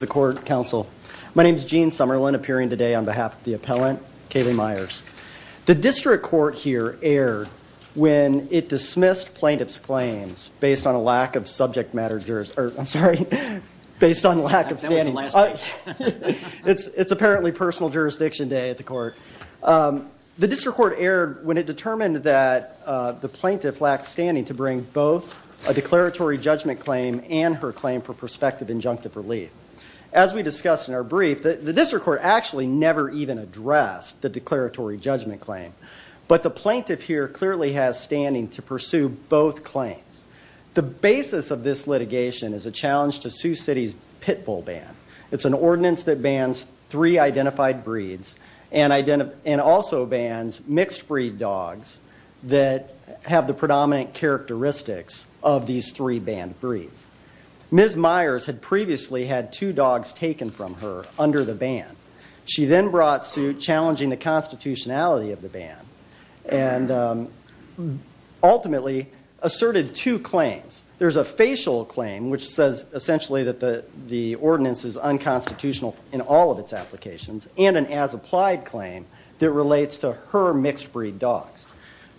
My name is Gene Summerlin, appearing today on behalf of the appellant, Kali Myers. The district court here erred when it dismissed plaintiff's claims based on a lack of subject matter jurisdiction. I'm sorry, based on lack of standing. It's apparently personal jurisdiction day at the court. The district court erred when it determined that the plaintiff lacked standing to bring both a declaratory judgment claim and her claim for prospective injunctive relief. As we discussed in our brief, the district court actually never even addressed the declaratory judgment claim. But the plaintiff here clearly has standing to pursue both claims. The basis of this litigation is a challenge to Sioux City's pit bull ban. It's an ordinance that bans three identified breeds and also bans mixed breed dogs that have the predominant characteristics of these three banned breeds. Ms. Myers had previously had two dogs taken from her under the ban. She then brought suit challenging the constitutionality of the ban and ultimately asserted two claims. There's a facial claim which says essentially that the ordinance is unconstitutional in all of its applications and an as-applied claim that relates to her mixed breed dogs.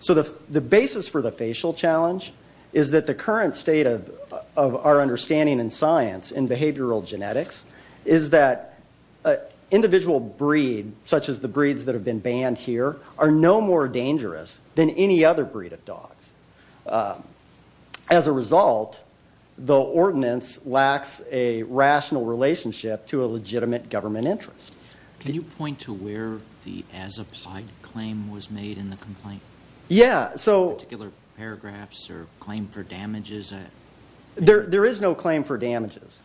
So the basis for the facial challenge is that the current state of our understanding in science in behavioral genetics is that individual breed, such as the breeds that have been banned here, are no more dangerous than any other breed of dogs. As a result, the ordinance lacks a rational relationship to a legitimate government interest. Can you point to where the as-applied claim was made in the complaint? Yeah. Particular paragraphs or claim for damages? There is no claim for damages.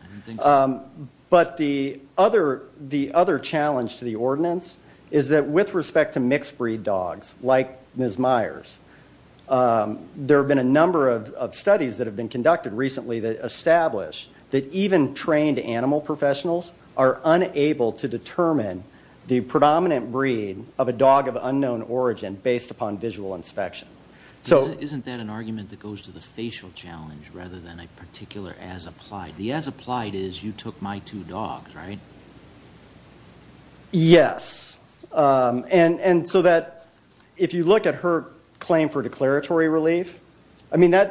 But the other challenge to the ordinance is that with respect to mixed breed dogs, like Ms. Myers, there have been a number of studies that have been conducted recently that establish that even trained animal professionals are unable to determine the predominant breed of a dog of unknown origin based upon visual inspection. Isn't that an argument that goes to the facial challenge rather than a particular as-applied? The as-applied is you took my two dogs, right? Yes. If you look at her claim for declaratory relief, I've been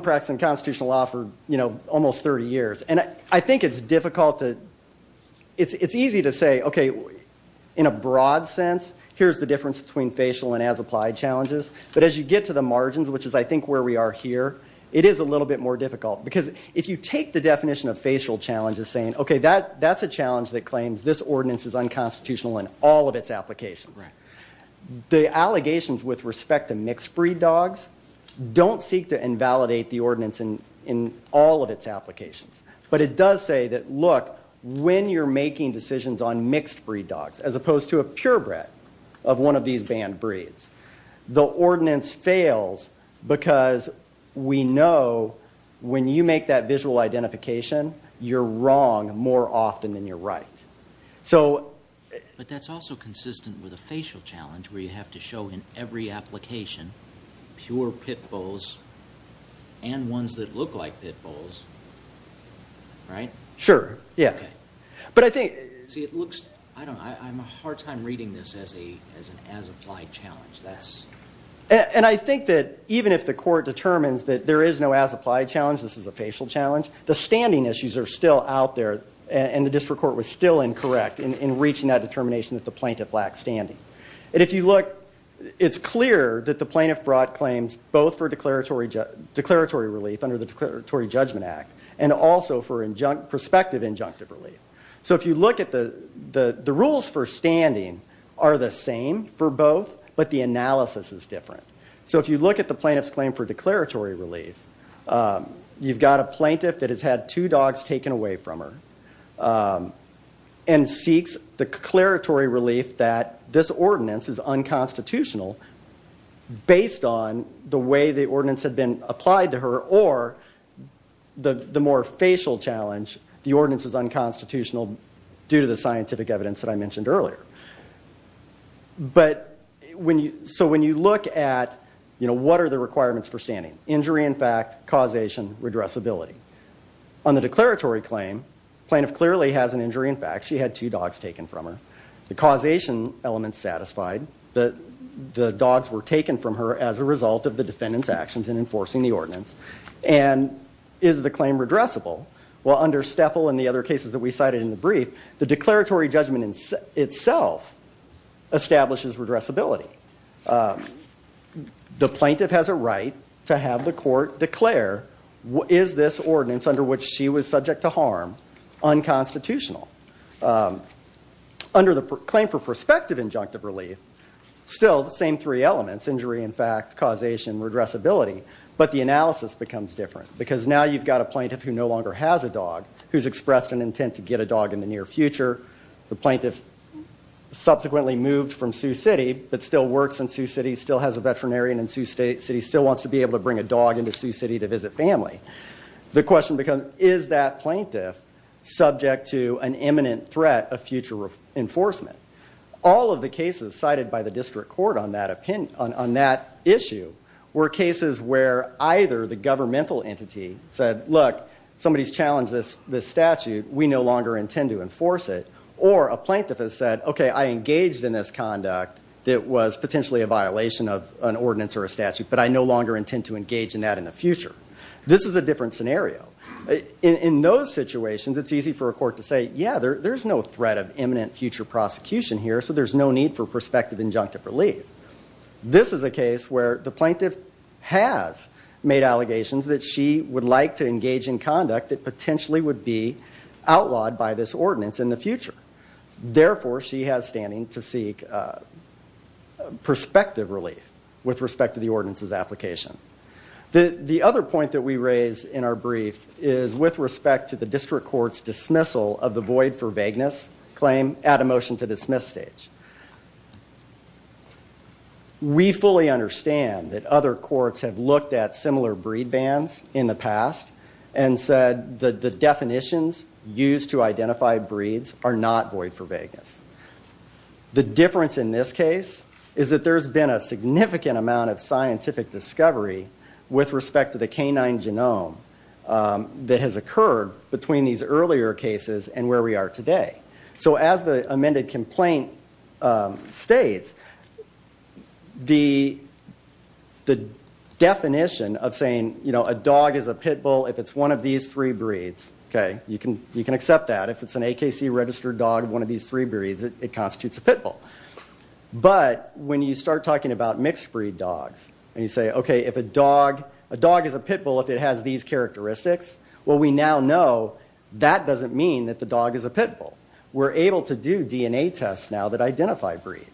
practicing constitutional law for almost 30 years. I think it's easy to say, okay, in a broad sense, here's the difference between facial and as-applied challenges. But as you get to the margins, which is I think where we are here, it is a little bit more difficult. Because if you take the definition of facial challenge as saying, okay, that's a challenge that claims this ordinance is unconstitutional in all of its applications. The allegations with respect to mixed breed dogs don't seek to invalidate the ordinance in all of its applications. But it does say that, look, when you're making decisions on mixed breed dogs, as opposed to a purebred of one of these banned breeds, the ordinance fails because we know when you make that visual identification, you're wrong more often than you're right. But that's also consistent with a facial challenge where you have to show in every application pure pit bulls and ones that look like pit bulls, right? Sure, yeah. But I think, see, it looks, I don't know, I'm a hard time reading this as an as-applied challenge. And I think that even if the court determines that there is no as-applied challenge, this is a facial challenge, the standing issues are still out there and the district court was still incorrect in reaching that determination that the plaintiff lacked standing. And if you look, it's clear that the plaintiff brought claims both for declaratory relief under the Declaratory Judgment Act and also for prospective injunctive relief. So if you look at the rules for standing are the same for both, but the analysis is different. So if you look at the plaintiff's claim for declaratory relief, you've got a plaintiff that has had two dogs taken away from her and seeks declaratory relief that this ordinance is unconstitutional based on the way the ordinance had been applied to her or the more facial challenge, the ordinance is unconstitutional due to the scientific evidence that I mentioned earlier. But when you, so when you look at, you know, what are the requirements for standing? Injury in fact, causation, redressability. On the declaratory claim, the plaintiff clearly has an injury in fact. She had two dogs taken from her. The causation element is satisfied. The dogs were taken from her as a result of the defendant's actions in enforcing the ordinance. And is the claim redressable? Well, under Steffel and the other cases that we cited in the brief, the declaratory judgment itself establishes redressability. The plaintiff has a right to have the court declare, is this ordinance under which she was subject to harm unconstitutional? Under the claim for prospective injunctive relief, still the same three elements, injury in fact, causation, redressability. But the analysis becomes different because now you've got a plaintiff who no longer has a dog, who's expressed an intent to get a dog in the near future. The plaintiff subsequently moved from Sioux City but still works in Sioux City, still has a veterinarian in Sioux City, still wants to be able to bring a dog into Sioux City to visit family. The question becomes, is that plaintiff subject to an imminent threat of future enforcement? All of the cases cited by the district court on that issue were cases where either the governmental entity said, look, somebody's challenged this statute, we no longer intend to enforce it. Or a plaintiff has said, okay, I engaged in this conduct that was potentially a violation of an ordinance or a statute, but I no longer intend to engage in that in the future. This is a different scenario. In those situations, it's easy for a court to say, yeah, there's no threat of imminent future prosecution here, so there's no need for prospective injunctive relief. This is a case where the plaintiff has made allegations that she would like to engage in conduct that potentially would be outlawed by this ordinance in the future. Therefore, she has standing to seek prospective relief with respect to the ordinance's application. The other point that we raise in our brief is with respect to the district court's dismissal of the void for vagueness claim at a motion to dismiss stage. We fully understand that other courts have looked at similar breed bans in the past and said that the definitions used to identify breeds are not void for vagueness. The difference in this case is that there's been a significant amount of scientific discovery with respect to the canine genome that has occurred between these earlier cases and where we are today. So as the amended complaint states, the definition of saying a dog is a pit bull if it's one of these three breeds, you can accept that. If it's an AKC-registered dog of one of these three breeds, it constitutes a pit bull. But when you start talking about mixed-breed dogs and you say, okay, if a dog is a pit bull if it has these characteristics, well, we now know that doesn't mean that the dog is a pit bull. We're able to do DNA tests now that identify breeds.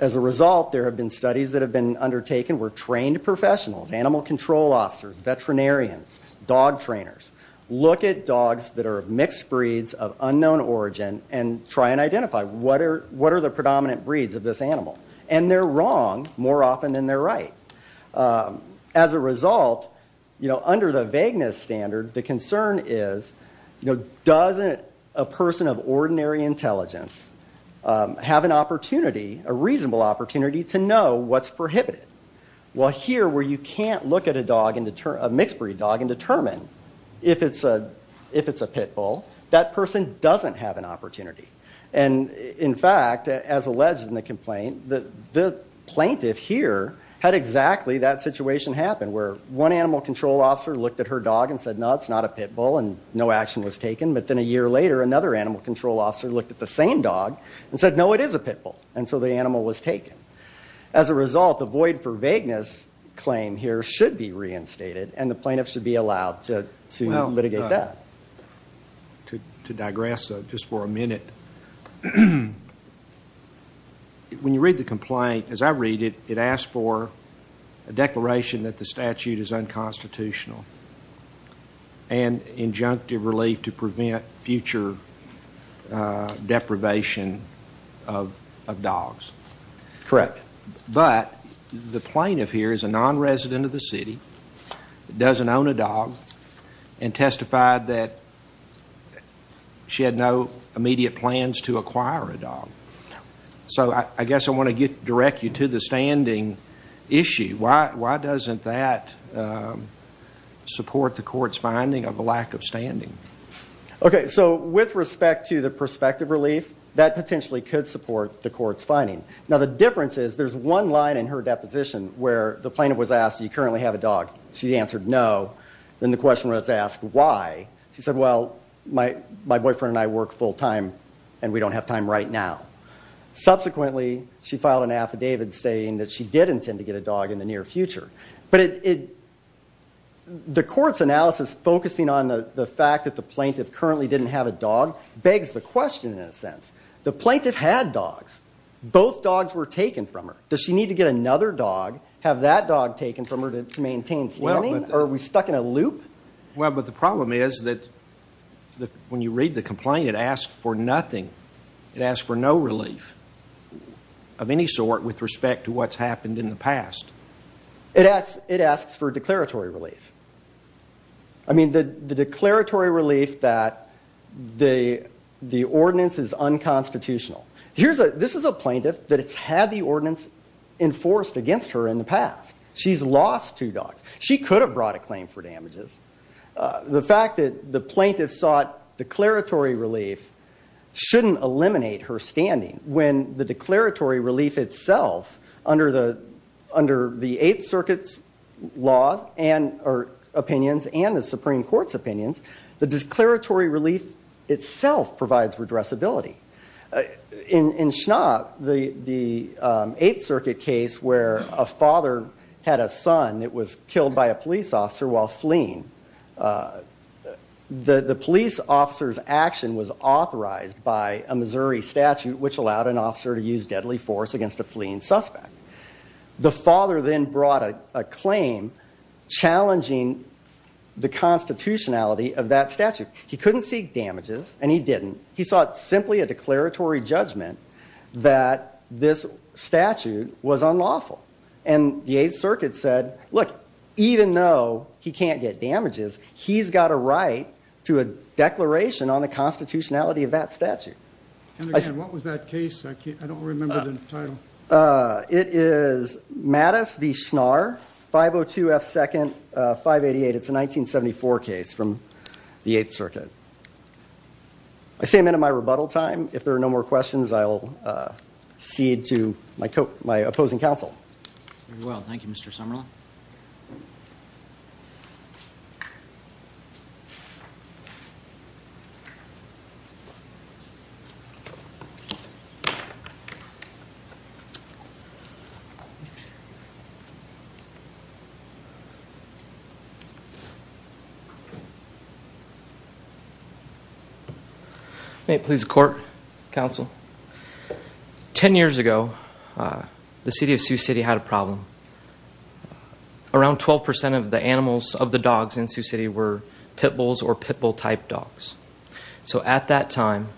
As a result, there have been studies that have been undertaken where trained professionals, animal control officers, veterinarians, dog trainers, look at dogs that are mixed breeds of unknown origin and try and identify what are the predominant breeds of this animal. And they're wrong more often than they're right. As a result, under the vagueness standard, the concern is, doesn't a person of ordinary intelligence have an opportunity, a reasonable opportunity, to know what's prohibited? Well, here where you can't look at a mixed-breed dog and determine if it's a pit bull, that person doesn't have an opportunity. And, in fact, as alleged in the complaint, the plaintiff here had exactly that situation happen where one animal control officer looked at her dog and said, no, it's not a pit bull, and no action was taken. But then a year later, another animal control officer looked at the same dog and said, no, it is a pit bull. And so the animal was taken. As a result, the void for vagueness claim here should be reinstated, and the plaintiff should be allowed to litigate that. To digress just for a minute, when you read the complaint, as I read it, it asks for a declaration that the statute is unconstitutional and injunctive relief to prevent future deprivation of dogs. Correct. But the plaintiff here is a non-resident of the city, doesn't own a dog, and testified that she had no immediate plans to acquire a dog. So I guess I want to direct you to the standing issue. Why doesn't that support the court's finding of a lack of standing? Okay, so with respect to the prospective relief, that potentially could support the court's finding. Now, the difference is there's one line in her deposition where the plaintiff was asked, do you currently have a dog? She answered no. Then the question was asked, why? She said, well, my boyfriend and I work full time, and we don't have time right now. Subsequently, she filed an affidavit stating that she did intend to get a dog in the near future. But the court's analysis focusing on the fact that the plaintiff currently didn't have a dog begs the question, in a sense. The plaintiff had dogs. Both dogs were taken from her. Does she need to get another dog, have that dog taken from her to maintain standing, or are we stuck in a loop? Well, but the problem is that when you read the complaint, it asks for nothing. It asks for no relief of any sort with respect to what's happened in the past. It asks for declaratory relief. I mean, the declaratory relief that the ordinance is unconstitutional. This is a plaintiff that has had the ordinance enforced against her in the past. She's lost two dogs. She could have brought a claim for damages. The fact that the plaintiff sought declaratory relief shouldn't eliminate her standing. When the declaratory relief itself, under the Eighth Circuit's opinions and the Supreme Court's opinions, the declaratory relief itself provides redressability. In Schnapp, the Eighth Circuit case where a father had a son that was killed by a police officer while fleeing, the police officer's action was authorized by a Missouri statute, which allowed an officer to use deadly force against a fleeing suspect. The father then brought a claim challenging the constitutionality of that statute. He couldn't seek damages, and he didn't. He sought simply a declaratory judgment that this statute was unlawful. And the Eighth Circuit said, look, even though he can't get damages, he's got a right to a declaration on the constitutionality of that statute. And again, what was that case? I don't remember the title. It is Mattis v. Schnarr, 502 F. 2nd, 588. It's a 1974 case from the Eighth Circuit. I say amen at my rebuttal time. If there are no more questions, I'll cede to my opposing counsel. Very well. Thank you, Mr. Summerlin. May it please the court, counsel. Ten years ago, the city of Sioux City had a problem. Around 12 percent of the animals of the dogs in Sioux City were pit bulls or pit bull-type dogs. So at that time,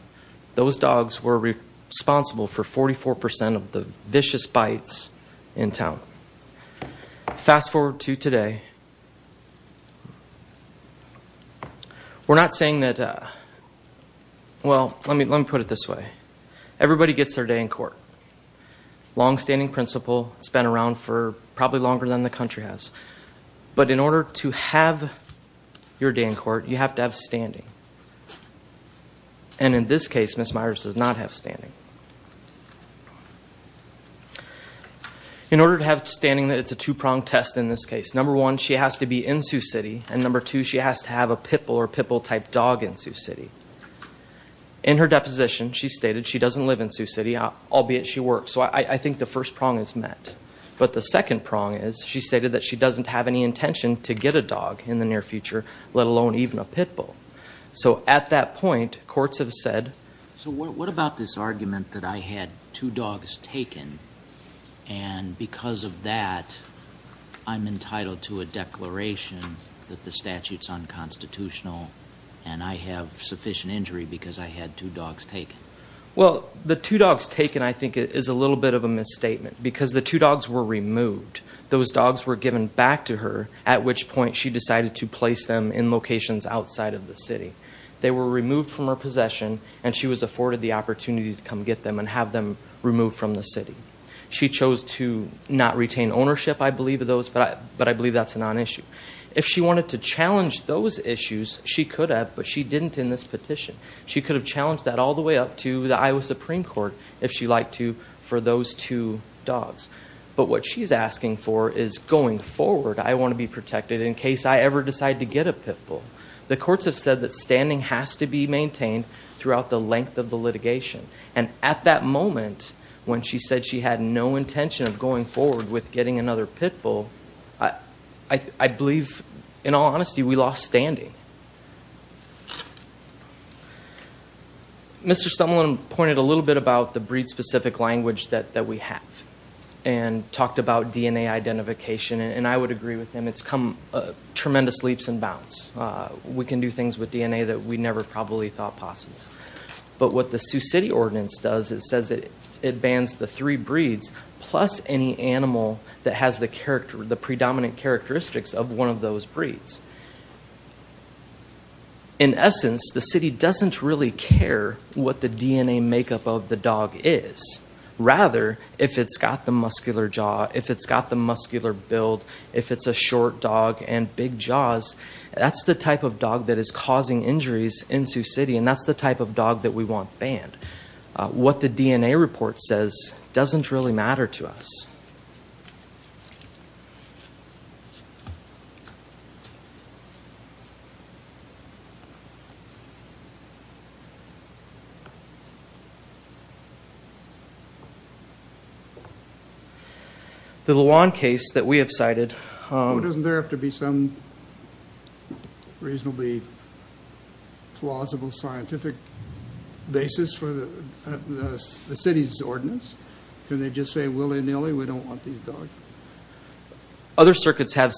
those dogs were responsible for 44 percent of the vicious bites in town. Fast forward to today. We're not saying that, well, let me put it this way. Everybody gets their day in court. Longstanding principle. It's been around for probably longer than the country has. But in order to have your day in court, you have to have standing. And in this case, Ms. Myers does not have standing. In order to have standing, it's a two-pronged test in this case. Number one, she has to be in Sioux City. And number two, she has to have a pit bull or pit bull-type dog in Sioux City. In her deposition, she stated she doesn't live in Sioux City, albeit she works. So I think the first prong is met. But the second prong is she stated that she doesn't have any intention to get a dog in the near future, let alone even a pit bull. So at that point, courts have said. So what about this argument that I had two dogs taken, and because of that, I'm entitled to a declaration that the statute's unconstitutional, and I have sufficient injury because I had two dogs taken? Well, the two dogs taken, I think, is a little bit of a misstatement because the two dogs were removed. Those dogs were given back to her, at which point she decided to place them in locations outside of the city. They were removed from her possession, and she was afforded the opportunity to come get them and have them removed from the city. She chose to not retain ownership, I believe, of those, but I believe that's a non-issue. If she wanted to challenge those issues, she could have, but she didn't in this petition. She could have challenged that all the way up to the Iowa Supreme Court if she liked to for those two dogs. But what she's asking for is going forward, I want to be protected in case I ever decide to get a pit bull. The courts have said that standing has to be maintained throughout the length of the litigation, and at that moment, when she said she had no intention of going forward with getting another pit bull, I believe, in all honesty, we lost standing. Mr. Sumlin pointed a little bit about the breed-specific language that we have and talked about DNA identification, and I would agree with him. It's come tremendous leaps and bounds. We can do things with DNA that we never probably thought possible. But what the Sioux City ordinance does, it says it bans the three breeds, plus any animal that has the predominant characteristics of one of those breeds. In essence, the city doesn't really care what the DNA makeup of the dog is. Rather, if it's got the muscular jaw, if it's got the muscular build, if it's a short dog and big jaws, that's the type of dog that is causing injuries in Sioux City, and that's the type of dog that we want banned. What the DNA report says doesn't really matter to us. The Luan case that we have cited. Doesn't there have to be some reasonably plausible scientific basis for the city's ordinance? Can they just say willy-nilly, we don't want these dogs? Other circuits have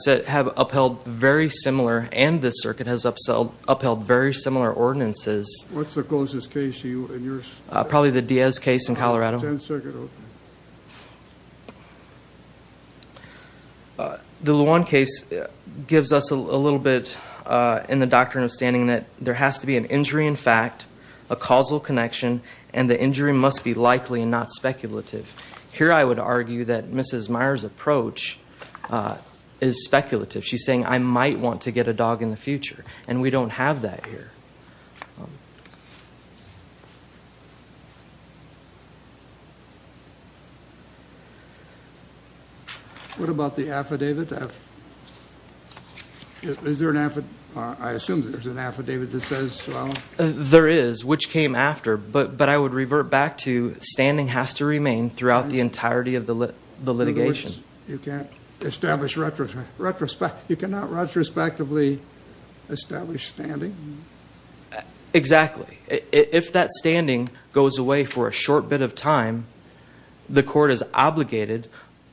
upheld very similar, and this circuit has upheld very similar ordinances. What's the closest case in your state? Probably the Diaz case in Colorado. Ten-circuit opening. The Luan case gives us a little bit in the doctrine of standing that there has to be an injury in fact, a causal connection, and the injury must be likely and not speculative. Here I would argue that Mrs. Meyer's approach is speculative. She's saying I might want to get a dog in the future, and we don't have that here. What about the affidavit? Is there an affidavit? I assume there's an affidavit that says well. There is, which came after, but I would revert back to standing has to remain throughout the entirety of the litigation. You cannot retrospectively establish standing? Exactly. If that standing goes away for a short bit of time, the court is obligated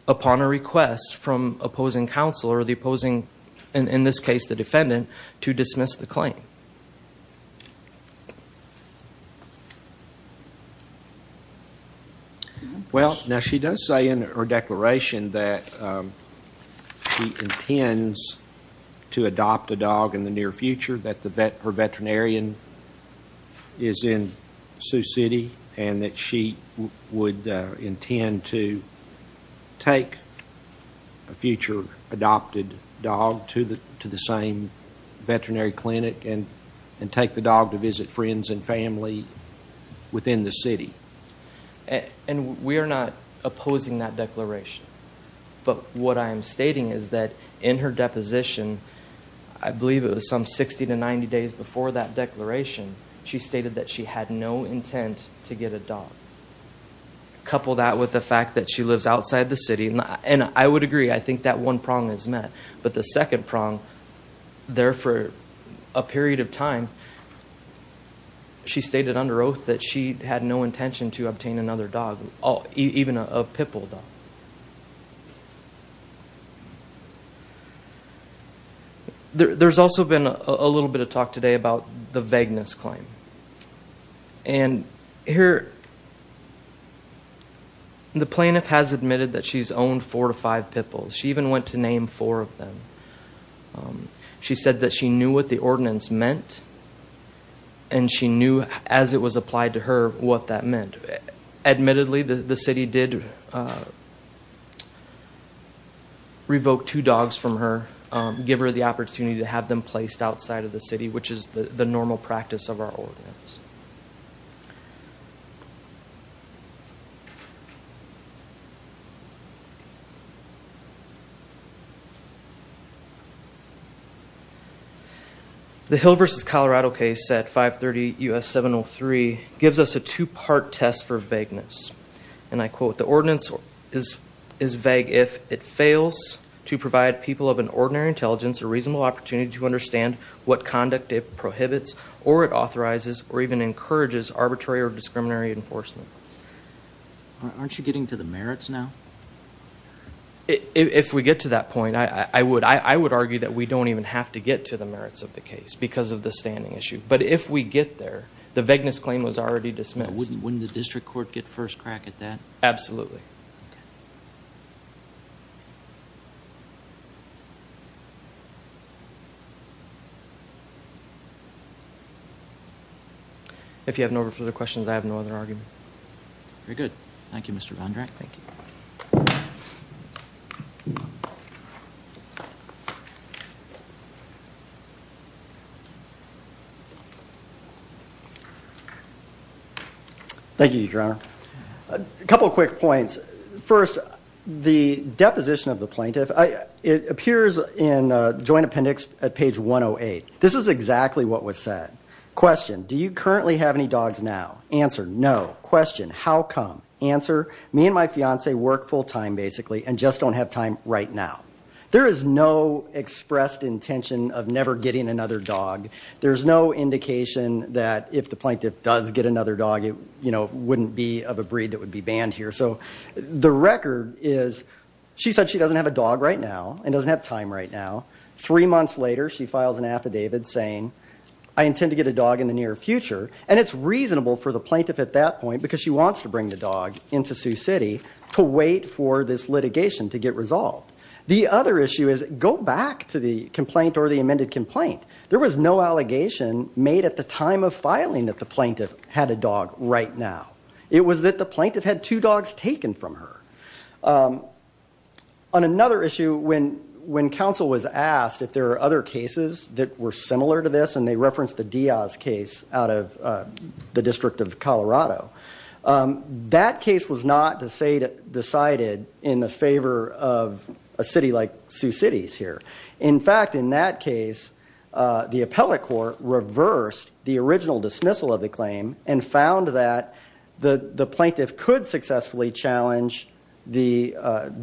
upon a request from opposing counsel or the opposing, in this case the defendant, to dismiss the claim. Well, now she does say in her declaration that she intends to adopt a dog in the near future, that her veterinarian is in Sioux City, and that she would intend to take a future adopted dog to the same veterinary clinic and take the dog to visit friends and family within the city. And we are not opposing that declaration. But what I am stating is that in her deposition, I believe it was some 60 to 90 days before that declaration, she stated that she had no intent to get a dog. Couple that with the fact that she lives outside the city, and I would agree. I think that one prong is met. But the second prong, there for a period of time, she stated under oath that she had no intention to obtain another dog, even a pit bull dog. There's also been a little bit of talk today about the vagueness claim. And the plaintiff has admitted that she's owned four to five pit bulls. She even went to name four of them. She said that she knew what the ordinance meant, and she knew as it was applied to her what that meant. Admittedly, the city did revoke two dogs from her, give her the opportunity to have them placed outside of the city, which is the normal practice of our ordinance. The Hill v. Colorado case at 530 U.S. 703 gives us a two-part test for vagueness. And I quote, Aren't you getting to the merits now? If we get to that point, I would argue that we don't even have to get to the merits of the case because of the standing issue. But if we get there, the vagueness claim was already dismissed. Wouldn't the district court get first crack at that? Absolutely. If you have no further questions, I have no other argument. Very good. Thank you, Mr. Vondrack. Thank you. Thank you, Your Honor. A couple of quick points. First, the deposition of the plaintiff, it appears in joint appendix at page 108. This is exactly what was said. Question, do you currently have any dogs now? Answer, no. Question, how come? Answer, me and my fiancee work full time, basically, and just don't have time right now. There is no expressed intention of never getting another dog. There's no indication that if the plaintiff does get another dog, it wouldn't be of a breed that would be banned here. So the record is she said she doesn't have a dog right now and doesn't have time right now. Three months later, she files an affidavit saying, I intend to get a dog in the near future. And it's reasonable for the plaintiff at that point, because she wants to bring the dog into Sioux City, to wait for this litigation to get resolved. The other issue is go back to the complaint or the amended complaint. There was no allegation made at the time of filing that the plaintiff had a dog right now. It was that the plaintiff had two dogs taken from her. On another issue, when counsel was asked if there are other cases that were similar to this, and they referenced the Diaz case out of the District of Colorado, that case was not decided in the favor of a city like Sioux City's here. In fact, in that case, the appellate court reversed the original dismissal of the claim and found that the plaintiff could successfully challenge the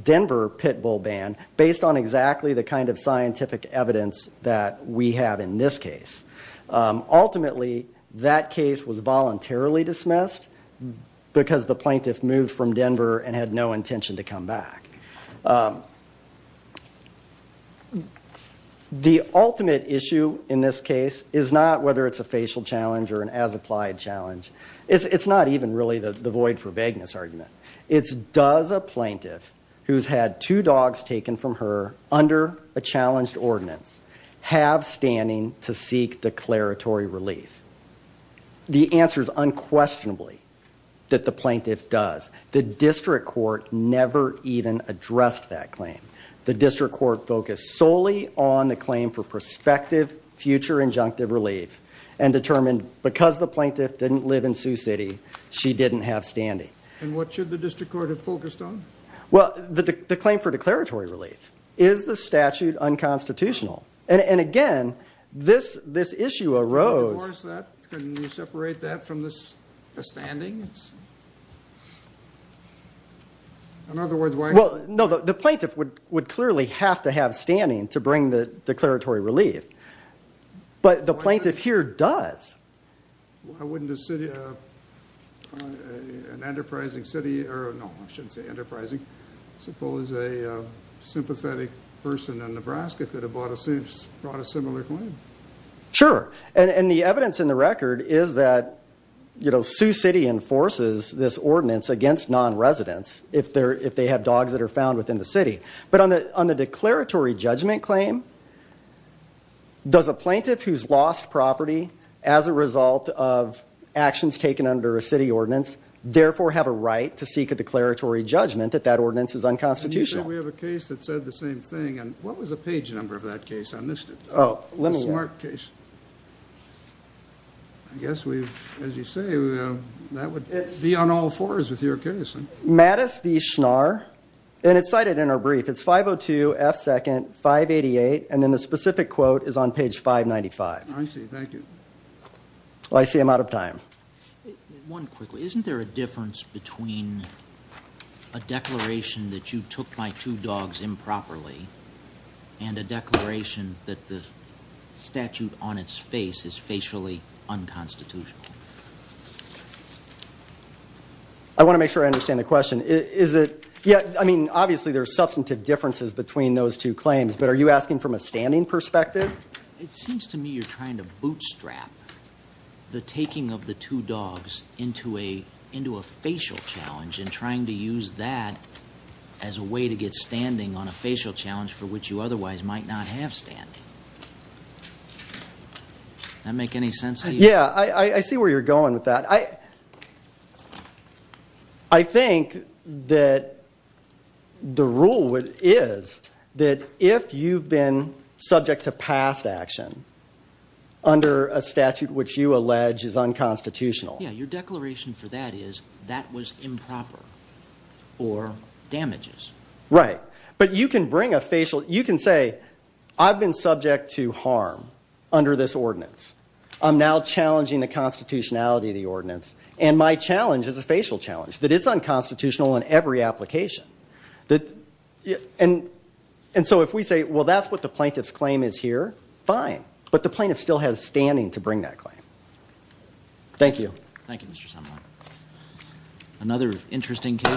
Denver pit bull ban based on exactly the kind of scientific evidence that we have in this case. Ultimately, that case was voluntarily dismissed because the plaintiff moved from Denver and had no intention to come back. The ultimate issue in this case is not whether it's a facial challenge or an as-applied challenge. It's not even really the void for vagueness argument. It's does a plaintiff who's had two dogs taken from her under a challenged ordinance have standing to seek declaratory relief. The answer is unquestionably that the plaintiff does. The district court never even addressed that claim. The district court focused solely on the claim for prospective future injunctive relief and determined because the plaintiff didn't live in Sioux City, she didn't have standing. And what should the district court have focused on? Well, the claim for declaratory relief. Is the statute unconstitutional? And again, this issue arose... In other words, why... Well, no, the plaintiff would clearly have to have standing to bring the declaratory relief. But the plaintiff here does. Why wouldn't an enterprising city... No, I shouldn't say enterprising. Suppose a sympathetic person in Nebraska could have brought a similar claim. Sure. And the evidence in the record is that, you know, Sioux City enforces this ordinance against non-residents if they have dogs that are found within the city. But on the declaratory judgment claim, does a plaintiff who's lost property as a result of actions taken under a city ordinance therefore have a right to seek a declaratory judgment that that ordinance is unconstitutional? We have a case that said the same thing. And what was the page number of that case on this? Oh, let me see. The Smart case. I guess we've, as you say, that would be on all fours with your case. Mattis v. Schnarr. And it's cited in our brief. It's 502 F. 2nd. 588. And then the specific quote is on page 595. I see. Thank you. Well, I see I'm out of time. One quickly. Isn't there a difference between a declaration that you took my two dogs improperly and a declaration that the statute on its face is facially unconstitutional? I want to make sure I understand the question. Is it? Yeah. I mean, obviously, there are substantive differences between those two claims. But are you asking from a standing perspective? It seems to me you're trying to bootstrap the taking of the two dogs into a facial challenge and trying to use that as a way to get standing on a facial challenge for which you otherwise might not have standing. Does that make any sense to you? Yeah. I see where you're going with that. I think that the rule is that if you've been subject to past action under a statute which you allege is unconstitutional. Yeah. Your declaration for that is that was improper or damages. Right. But you can bring a facial. You can say I've been subject to harm under this ordinance. I'm now challenging the constitutionality of the ordinance. And my challenge is a facial challenge, that it's unconstitutional in every application. And so if we say, well, that's what the plaintiff's claim is here, fine. But the plaintiff still has standing to bring that claim. Thank you. Thank you, Mr. Semel. Another interesting case.